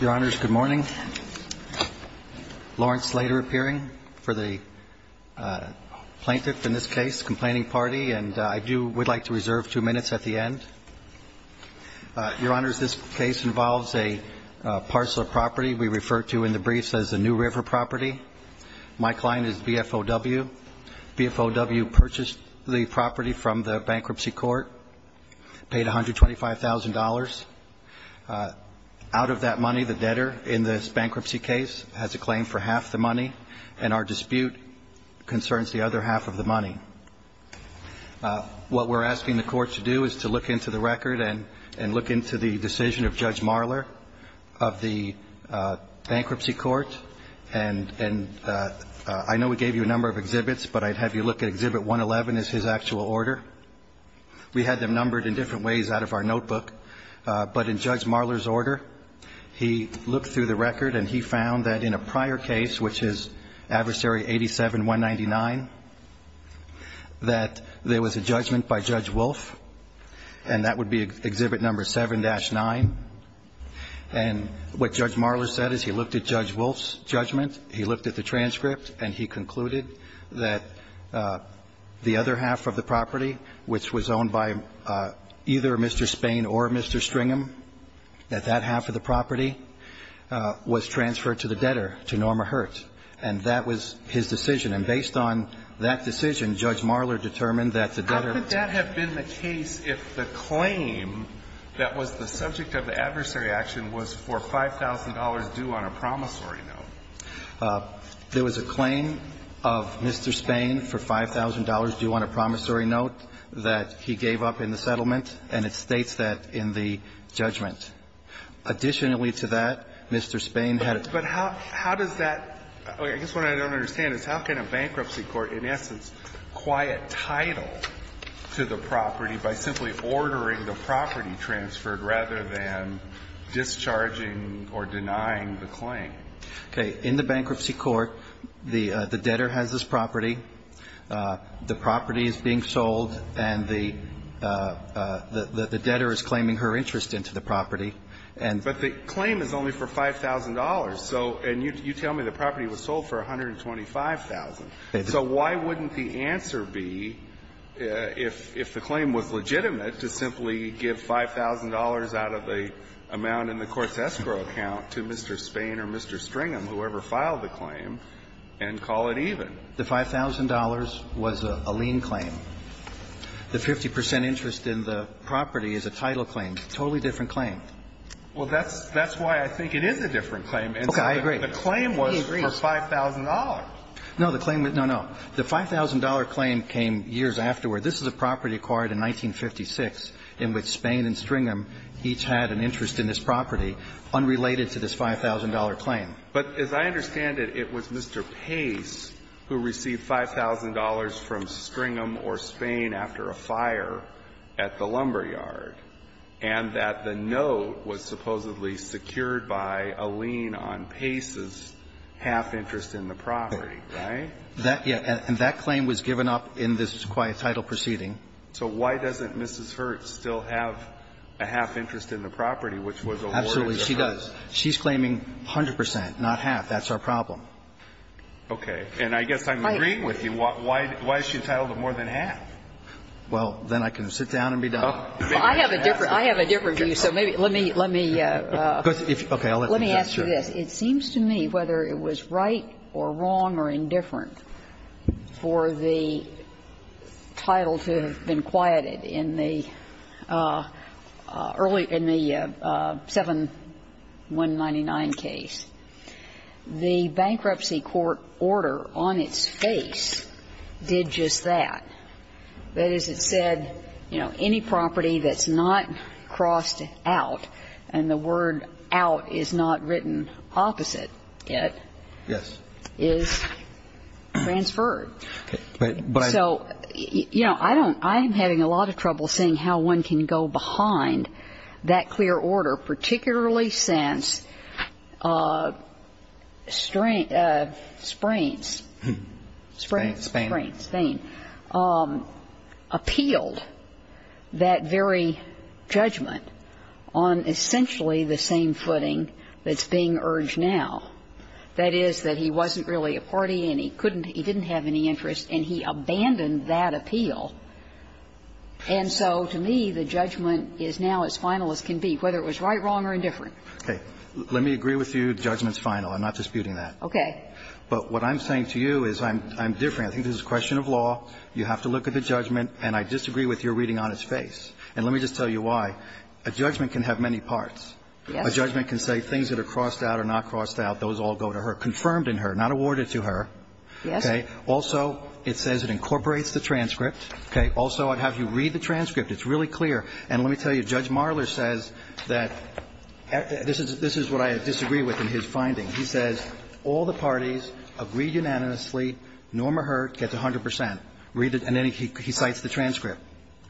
Your Honors, good morning. Lawrence Slater appearing for the plaintiff in this case, complaining party, and I do would like to reserve two minutes at the end. Your Honors, this case involves a parcel of property we refer to in the briefs as the New River property. My client is BFOW. BFOW purchased the property from the bankruptcy court, paid $125,000 for $125,000. Out of that money, the debtor in this bankruptcy case has a claim for half the money, and our dispute concerns the other half of the money. What we're asking the court to do is to look into the record and look into the decision of Judge Marler of the bankruptcy court, and I know we gave you a number of exhibits, but I'd have you look at Exhibit 111 is his actual order. We had them numbered in different ways out of our notebook, but in Judge Marler's order, he looked through the record and he found that in a prior case, which is Adversary 87-199, that there was a judgment by Judge Wolfe, and that would be Exhibit No. 7-9, and what Judge Marler said is he looked at Judge Wolfe's judgment, he looked at the transcript, and he concluded that the other half of the property, which was owned by either Mr. Spain or Mr. Stringham, that that half of the property was transferred to the debtor, to Norma Hurt, and that was his decision. And based on that decision, Judge Marler determined that the debtor was the debtor. Alito, I think that would have been the case if the claim that was the subject of the adversary action was for $5,000 due on a promissory note. There was a claim of Mr. Spain for $5,000 due on a promissory note that he gave up in the settlement, and it states that in the judgment. Additionally to that, Mr. Spain had a ---- Alito, but how does that ---- I guess what I don't understand is how can a bankruptcy court, in essence, quiet title to the property by simply ordering the property transferred rather than discharging or denying the claim? Okay. In the bankruptcy court, the debtor has this property. The property is being sold, and the debtor is claiming her interest into the property. And the claim is only for $5,000. So you tell me the property was sold for $125,000. So why wouldn't the answer be, if the claim was legitimate, to simply give $5,000 out of the amount in the court's escrow account to Mr. Spain or Mr. Stringham, whoever filed the claim, and call it even? The $5,000 was a lien claim. The 50 percent interest in the property is a title claim. Totally different claim. Well, that's why I think it is a different claim. Okay. I agree. The claim was for $5,000. No, the claim was no, no. The $5,000 claim came years afterward. This is a property acquired in 1956 in which Spain and Stringham each had an interest in this property unrelated to this $5,000 claim. But as I understand it, it was Mr. Pace who received $5,000 from Stringham or Spain after a fire at the lumberyard, and that the note was supposedly secured by a lien on Pace's half interest in the property, right? That, yeah, and that claim was given up in this acquired title proceeding. So why doesn't Mrs. Hertz still have a half interest in the property, which was awarded to her? Absolutely, she does. She's claiming 100 percent, not half. That's our problem. Okay. And I guess I'm agreeing with you. Why is she entitled to more than half? Well, then I can sit down and be done. I have a different view, so maybe let me ask you this. It seems to me, whether it was right or wrong or indifferent for the title to have been quieted in the early, in the 7199 case, the Bankruptcy Court order on its face did just that. That is, it said, you know, any property that's not crossed out, and the word out is not written opposite, yet, is transferred. So, you know, I don't – I'm having a lot of trouble seeing how one can go behind that clear order, particularly since Sprains, Sprains, Spain, Spain, appealed that very judgment on essentially the same footing that's being urged now. That is, that he wasn't really a party, and he couldn't – he didn't have any interest, and he abandoned that appeal. And so to me, the judgment is now as final as can be, whether it was right, wrong or indifferent. Okay. Let me agree with you, judgment's final. I'm not disputing that. Okay. But what I'm saying to you is I'm different. I think this is a question of law. You have to look at the judgment, and I disagree with your reading on its face. And let me just tell you why. A judgment can have many parts. Yes. A judgment can say things that are crossed out or not crossed out, those all go to her. Confirmed in her, not awarded to her. Yes. Okay. Also, it says it incorporates the transcript. Okay. Also, I'd have you read the transcript. It's really clear. And let me tell you, Judge Marler says that – this is what I disagree with in his finding. He says all the parties agreed unanimously, Norma Heard gets 100 percent. Read it. And then he cites the transcript.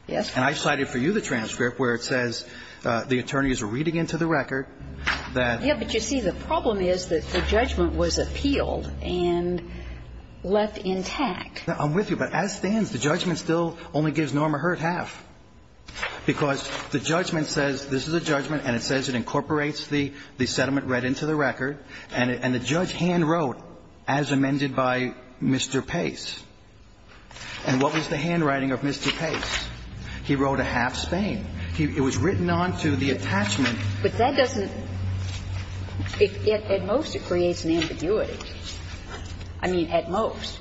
Yes. And I cited for you the transcript where it says the attorneys are reading into the record that – Yes, but you see, the problem is that the judgment was appealed and left intact. I'm with you. But as it stands, the judgment still only gives Norma Heard half because the judgment says this is a judgment and it says it incorporates the settlement right into the record, and the judge hand wrote, as amended by Mr. Pace. And what was the handwriting of Mr. Pace? He wrote a half Spain. It was written on to the attachment. But that doesn't – at most it creates an ambiguity. I mean, at most.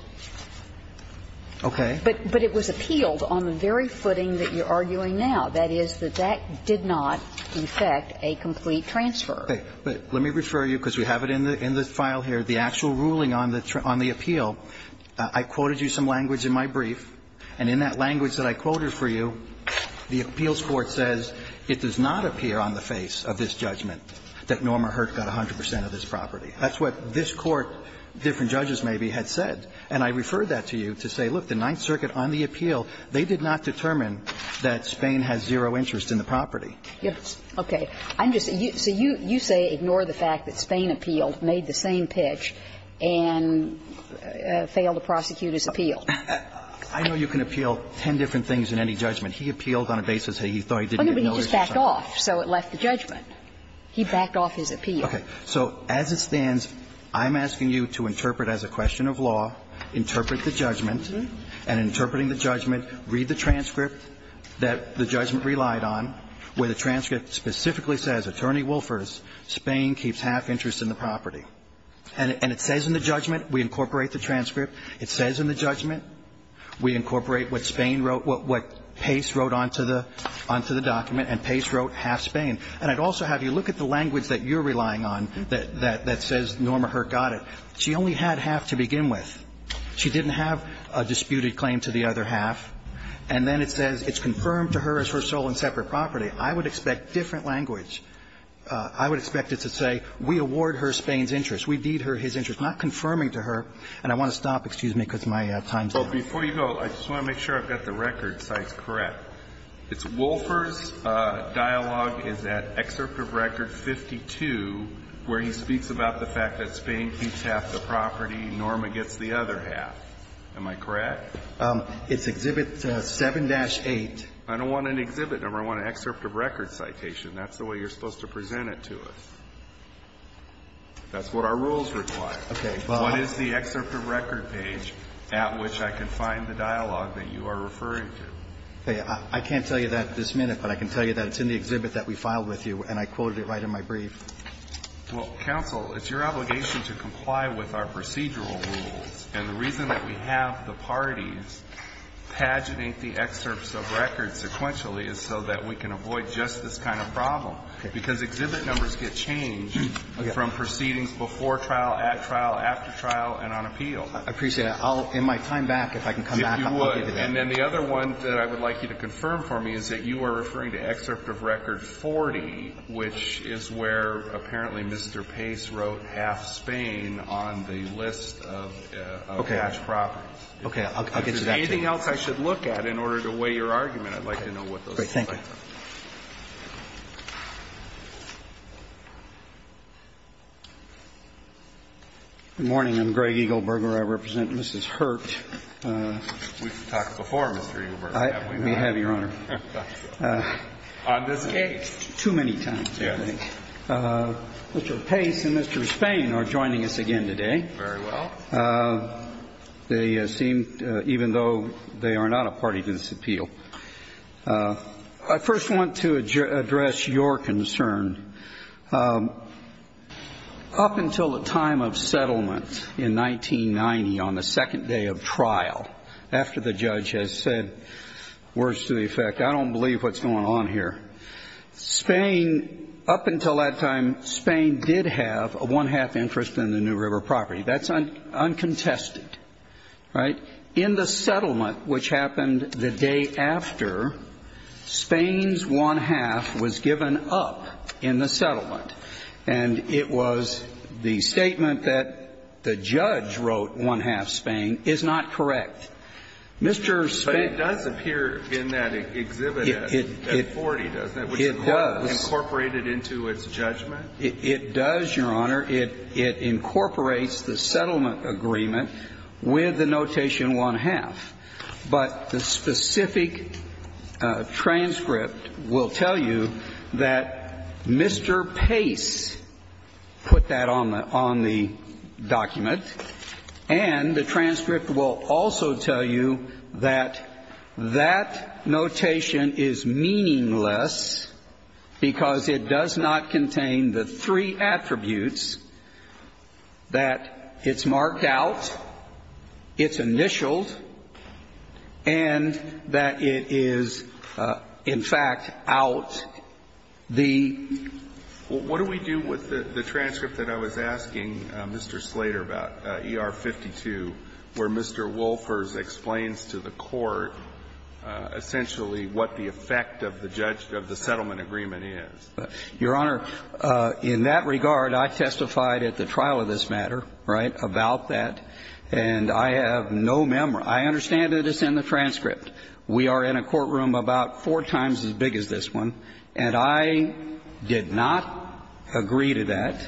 Okay. But it was appealed on the very footing that you're arguing now, that is, that that did not effect a complete transfer. But let me refer you, because we have it in the file here, the actual ruling on the appeal. I quoted you some language in my brief, and in that language that I quoted for you, the appeals court says it does not appear on the face of this judgment that Norma Heard got 100 percent of this property. That's what this Court, different judges maybe, had said. And I referred that to you to say, look, the Ninth Circuit on the appeal, they did not determine that Spain has zero interest in the property. Yes. Okay. I'm just – so you say ignore the fact that Spain appealed, made the same pitch, and failed to prosecute his appeal. I know you can appeal ten different things in any judgment. He appealed on a basis that he thought he didn't get no interest in the property. But he just backed off, so it left the judgment. He backed off his appeal. Okay. So as it stands, I'm asking you to interpret as a question of law, interpret the judgment, and in interpreting the judgment, read the transcript that the judgment relied on, where the transcript specifically says, Attorney Wolfers, Spain keeps half interest in the property. And it says in the judgment, we incorporate the transcript. It says in the judgment, we incorporate what Spain wrote, what Pace wrote onto the document, and Pace wrote half Spain. And I'd also have you look at the language that you're relying on that says Norma Hurt got it. She only had half to begin with. She didn't have a disputed claim to the other half. And then it says it's confirmed to her as her sole and separate property. I would expect different language. I would expect it to say, we award her Spain's interest. We deed her his interest. Not confirming to her. And I want to stop, excuse me, because my time's up. But before you go, I just want to make sure I've got the record cites correct. It's Wolfers' dialogue is at excerpt of record 52, where he speaks about the fact that Spain keeps half the property, Norma gets the other half. Am I correct? It's Exhibit 7-8. I don't want an exhibit number. I want an excerpt of record citation. That's the way you're supposed to present it to us. That's what our rules require. What is the excerpt of record page at which I can find the dialogue that you are referring to? I can't tell you that at this minute, but I can tell you that it's in the exhibit that we filed with you, and I quoted it right in my brief. Well, counsel, it's your obligation to comply with our procedural rules. And the reason that we have the parties paginate the excerpts of record sequentially is so that we can avoid just this kind of problem, because exhibit numbers get changed from proceedings before trial, at trial, after trial, and on appeal. I appreciate that. I'll, in my time back, if I can come back, I'll give you that. If you would. And then the other one that I would like you to confirm for me is that you are referring to excerpt of record 40, which is where apparently Mr. Pace wrote half Spain on the list of cash properties. Okay. I'll get you that, too. Anything else I should look at in order to weigh your argument, I'd like to know what those are. Thank you. Good morning. I'm Greg Eagleburger. I represent Mrs. Hurt. We've talked before, Mr. Eagleburger, haven't we? We have, Your Honor. On this case. Too many times, I think. Mr. Pace and Mr. Spain are joining us again today. Very well. They seem, even though they are not a party to this appeal. I first want to address your concern. Up until the time of settlement in 1990, on the second day of trial, after the judge has said, words to the effect, I don't believe what's going on here, Spain, up until that time, Spain did have a one-half interest in the New River property. That's uncontested, right? In the settlement, which happened the day after, Spain's one-half was given up in the settlement. And it was the statement that the judge wrote one-half Spain is not correct. Mr. Spain. But it does appear in that exhibit at 40, doesn't it, which incorporated into its judgment? It does, Your Honor. It incorporates the settlement agreement with the notation one-half. But the specific transcript will tell you that Mr. Pace put that on the document. And the transcript will also tell you that that notation is meaningless because it does not contain the three attributes that it's marked out, it's initialed, and that it is, in fact, out the ---- What do we do with the transcript that I was asking Mr. Slater about, ER-52, where Mr. Wolfers explains to the court essentially what the effect of the judgment of the settlement agreement is? Your Honor, in that regard, I testified at the trial of this matter, right, about that, and I have no memory. I understand that it's in the transcript. We are in a courtroom about four times as big as this one, and I did not agree to that.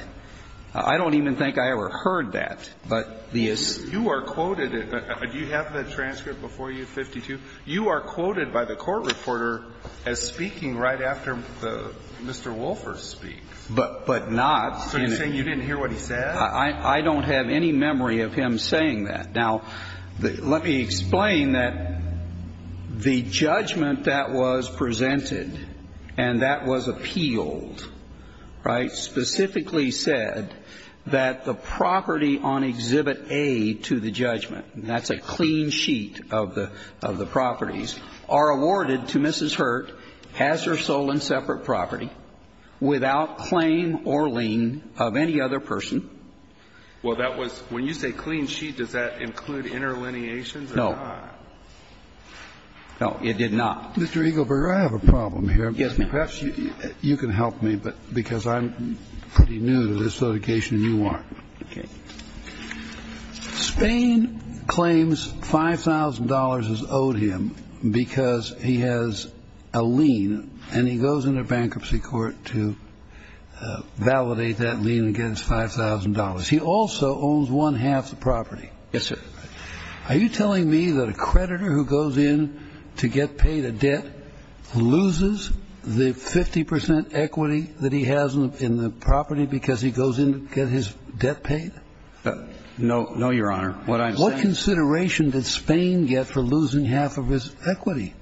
I don't even think I ever heard that, but the assumption is that it's in the transcript. You are quoted at the ---- do you have the transcript before you, 52? You are quoted by the court reporter as speaking right after Mr. Wolfers speaks. But not in a ---- So you're saying you didn't hear what he said? I don't have any memory of him saying that. Now, let me explain that the judgment that was presented and that was appealed, right, specifically said that the property on Exhibit A to the judgment, and that's a clean sheet of the properties, are awarded to Mrs. Hurt as her sole and separate property without claim or lien of any other person. Well, that was ---- when you say clean sheet, does that include interlineations or not? No. No, it did not. Mr. Eagleburger, I have a problem here. Yes, ma'am. Perhaps you can help me, because I'm pretty new to this litigation and you aren't. Okay. Spain claims $5,000 is owed him because he has a lien and he goes into bankruptcy court to validate that lien against $5,000. He also owns one-half the property. Yes, sir. Are you telling me that a creditor who goes in to get paid a debt loses the 50% equity that he has in the property because he goes in to get his debt paid? No, Your Honor. What I'm saying ---- What consideration did Spain get for losing half of his equity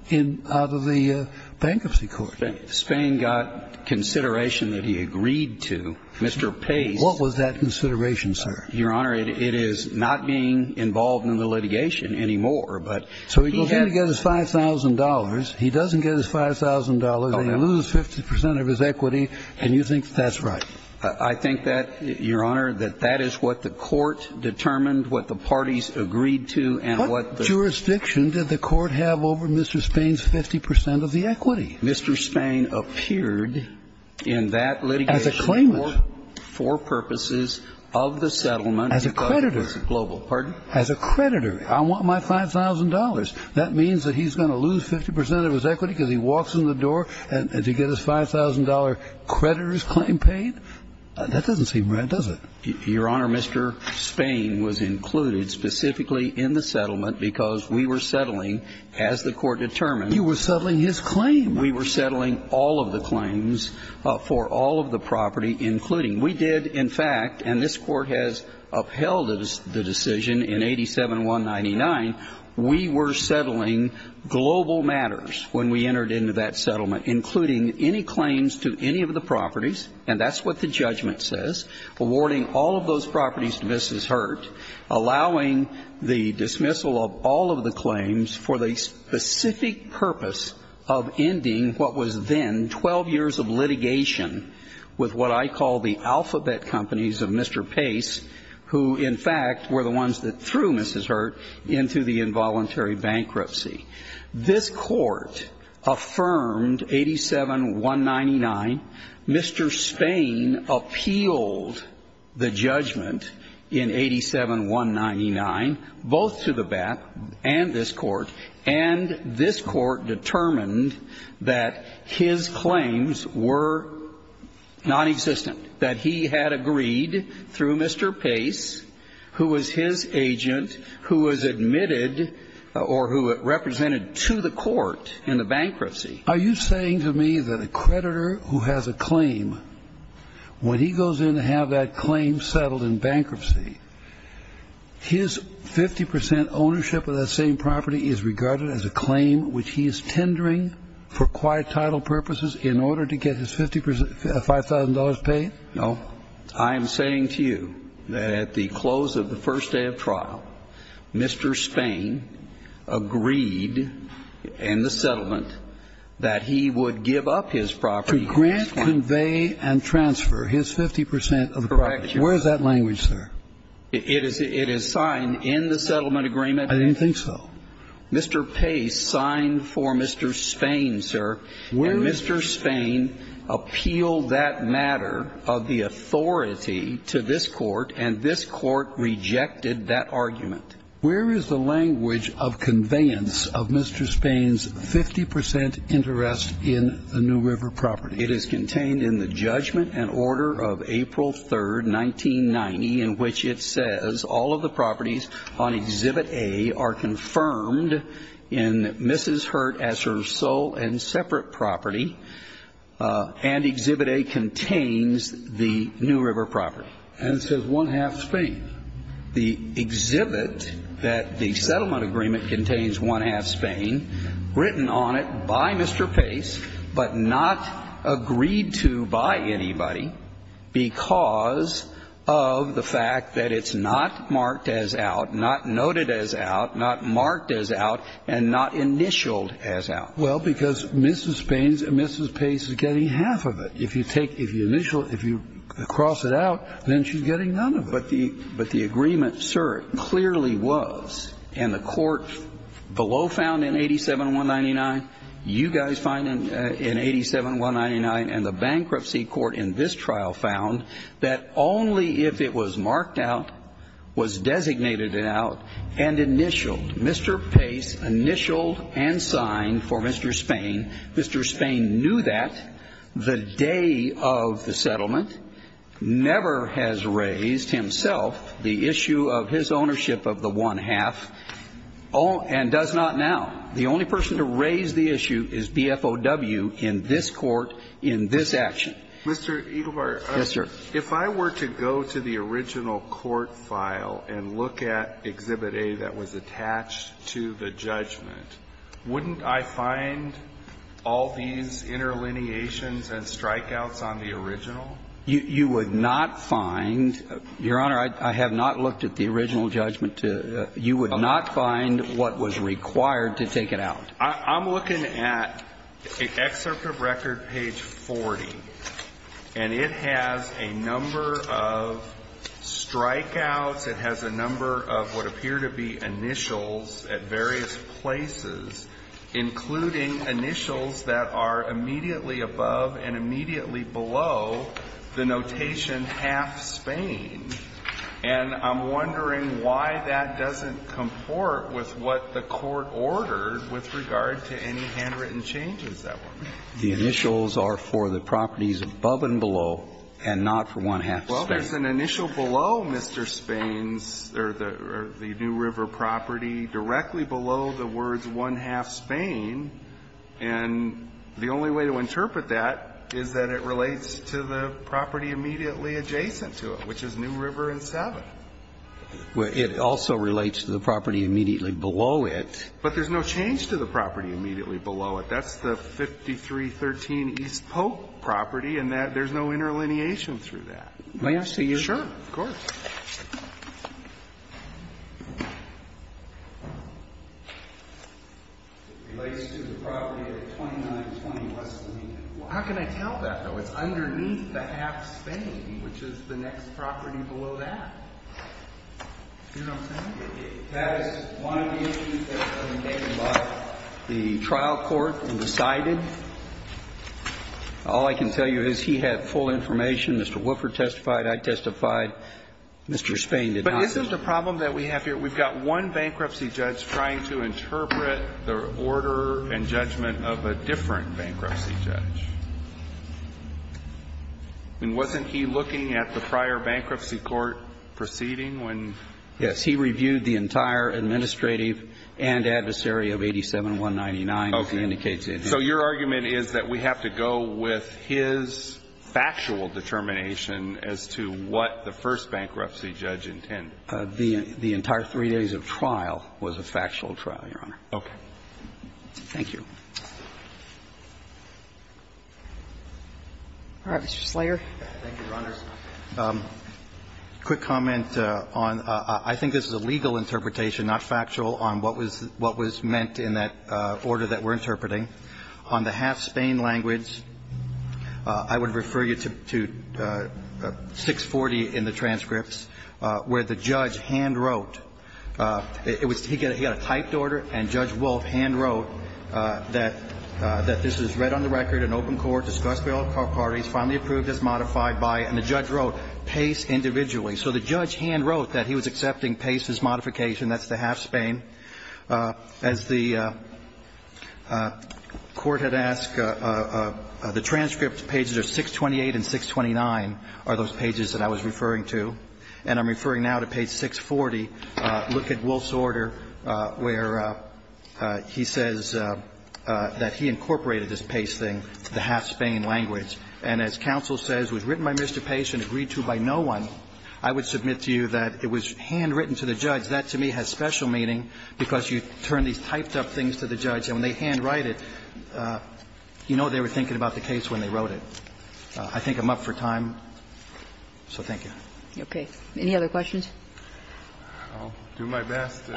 out of the bankruptcy court? Spain got consideration that he agreed to. Mr. Pace ---- What was that consideration, sir? Your Honor, it is not being involved in the litigation anymore, but ---- So he goes in to get his $5,000, he doesn't get his $5,000, and he loses 50% of his equity, and you think that's right? I think that, Your Honor, that that is what the court determined, what the parties agreed to, and what the ---- What jurisdiction did the court have over Mr. Spain's 50% of the equity? Mr. Spain appeared in that litigation for purposes of the settlement because he was a creditor. As a creditor, I want my $5,000. That means that he's going to lose 50% of his equity because he walks in the door to get his $5,000 creditor's claim paid? That doesn't seem right, does it? Your Honor, Mr. Spain was included specifically in the settlement because we were settling, as the court determined ---- You were settling his claim. We were settling all of the claims for all of the property, including. We did, in fact, and this Court has upheld the decision in 87-199, we were settling global matters when we entered into that settlement, including any claims to any of the properties, and that's what the judgment says, awarding all of those properties to Mrs. Hurt, allowing the dismissal of all of the claims for the specific purpose of ending what was then 12 years of litigation with what I call the alphabet companies of Mr. Pace, who, in fact, were the ones that threw Mrs. Hurt into the involuntary bankruptcy. This Court affirmed 87-199. Mr. Spain appealed the judgment in 87-199, both to the BAP and this Court, and this Court determined that his claims were nonexistent, that he had agreed through Mr. Pace, who was his agent, who was admitted or who represented to the Court in the bankruptcy. Are you saying to me that a creditor who has a claim, when he goes in to have that claim settled in bankruptcy, his 50 percent ownership of that same property is regarded as a claim which he is tendering for quiet title purposes in order to get his 50 percent, $5,000 paid? No. I am saying to you that at the close of the first day of trial, Mr. Spain agreed in the settlement that he would give up his property. To grant, convey, and transfer his 50 percent of the property. Correct. Where is that language, sir? It is signed in the settlement agreement. I didn't think so. Mr. Pace signed for Mr. Spain, sir, and Mr. Spain appealed that matter of the effect of authority to this Court, and this Court rejected that argument. Where is the language of conveyance of Mr. Spain's 50 percent interest in the New River property? It is contained in the judgment and order of April 3, 1990, in which it says all of the properties on Exhibit A are confirmed in Mrs. Hurt as her sole and separate property, and Exhibit A contains the New River property. And it says one-half Spain. The exhibit that the settlement agreement contains one-half Spain, written on it by Mr. Pace, but not agreed to by anybody because of the fact that it's not marked as out, not noted as out, not marked as out, and not initialed as out. Well, because Mrs. Spain's and Mrs. Pace's are getting half of it. If you take the initial, if you cross it out, then she's getting none of it. But the agreement, sir, clearly was, and the Court below found in 87-199, you guys find in 87-199, and the bankruptcy court in this trial found that only if it was marked out, was designated out, and initialed. It's initialed and signed for Mr. Spain. Mr. Spain knew that the day of the settlement, never has raised himself the issue of his ownership of the one-half, and does not now. The only person to raise the issue is BFOW in this Court, in this action. Mr. Eaglebarger, if I were to go to the original court file and look at Exhibit A that was attached to the judgment, wouldn't I find all these interlineations and strikeouts on the original? You would not find, Your Honor, I have not looked at the original judgment to, you would not find what was required to take it out. I'm looking at Excerpt of Record, page 40, and it has a number of strikeouts. It has a number of what appear to be initials at various places, including initials that are immediately above and immediately below the notation half Spain. And I'm wondering why that doesn't comport with what the Court ordered with regard to any handwritten changes that were made. The initials are for the properties above and below, and not for one-half Spain. Well, there's an initial below Mr. Spain's, or the New River property, directly below the words one-half Spain, and the only way to interpret that is that it relates to the property immediately adjacent to it, which is New River and 7. Well, it also relates to the property immediately below it. But there's no change to the property immediately below it. That's the 5313 East Polk property, and there's no interlineation through that. May I see your? Sure. Of course. It relates to the property at 2920 West Lomita. How can I tell that, though? It's underneath the half Spain, which is the next property below that. Do you know what I'm saying? That is one of the issues that has been taken by the trial court and decided. All I can tell you is he had full information. Mr. Woofer testified, I testified, Mr. Spain did not. But isn't the problem that we have here, we've got one bankruptcy judge trying to interpret the order and judgment of a different bankruptcy judge. I mean, wasn't he looking at the prior bankruptcy court proceeding when? Yes. He reviewed the entire administrative and adversary of 87199, as he indicates in his. His argument is that we have to go with his factual determination as to what the first bankruptcy judge intended. The entire three days of trial was a factual trial, Your Honor. Okay. Thank you. All right. Mr. Slayer. Thank you, Your Honors. Quick comment on the legal interpretation, not factual, on what was meant in that I think it's important to point out that in the case of 87199, there was a modification on the half-Spain language. I would refer you to 640 in the transcripts, where the judge hand-wrote. He got a typed order, and Judge Wolf hand-wrote that this was read on the record in open court, discussed by all parties, finally approved as modified by, and the judge wrote, Pace individually. So the judge hand-wrote that he was accepting Pace's modification. That's the half-Spain. As the Court had asked, the transcript pages are 628 and 629 are those pages that I was referring to. And I'm referring now to page 640. Look at Wolf's order, where he says that he incorporated this Pace thing, the half-Spain language. And as counsel says, it was written by Mr. Pace and agreed to by no one. I would submit to you that it was hand-written to the judge. That, to me, has special meaning, because you turn these typed-up things to the judge. And when they hand-write it, you know they were thinking about the case when they wrote it. I think I'm up for time. So thank you. Okay. Any other questions? I'll do my best to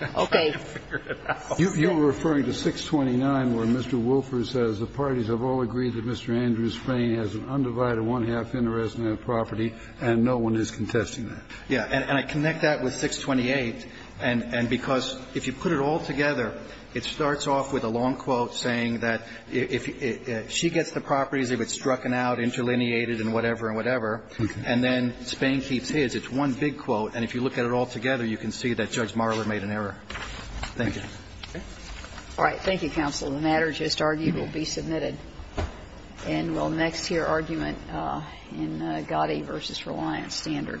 figure it out. Okay. You were referring to 629, where Mr. Wolfer says, The parties have all agreed that Mr. Andrews' Spain has an undivided one-half interest in that property, and no one is contesting that. Yeah. And I connect that with 628, and because if you put it all together, it starts off with a long quote saying that if she gets the properties, if it's struck out, interlineated, and whatever and whatever, and then Spain keeps his. It's one big quote. And if you look at it all together, you can see that Judge Marler made an error. Thank you. All right. Thank you, counsel. The matter just argued will be submitted. And we'll next hear argument in Gotti v. Reliance standard. Thank you.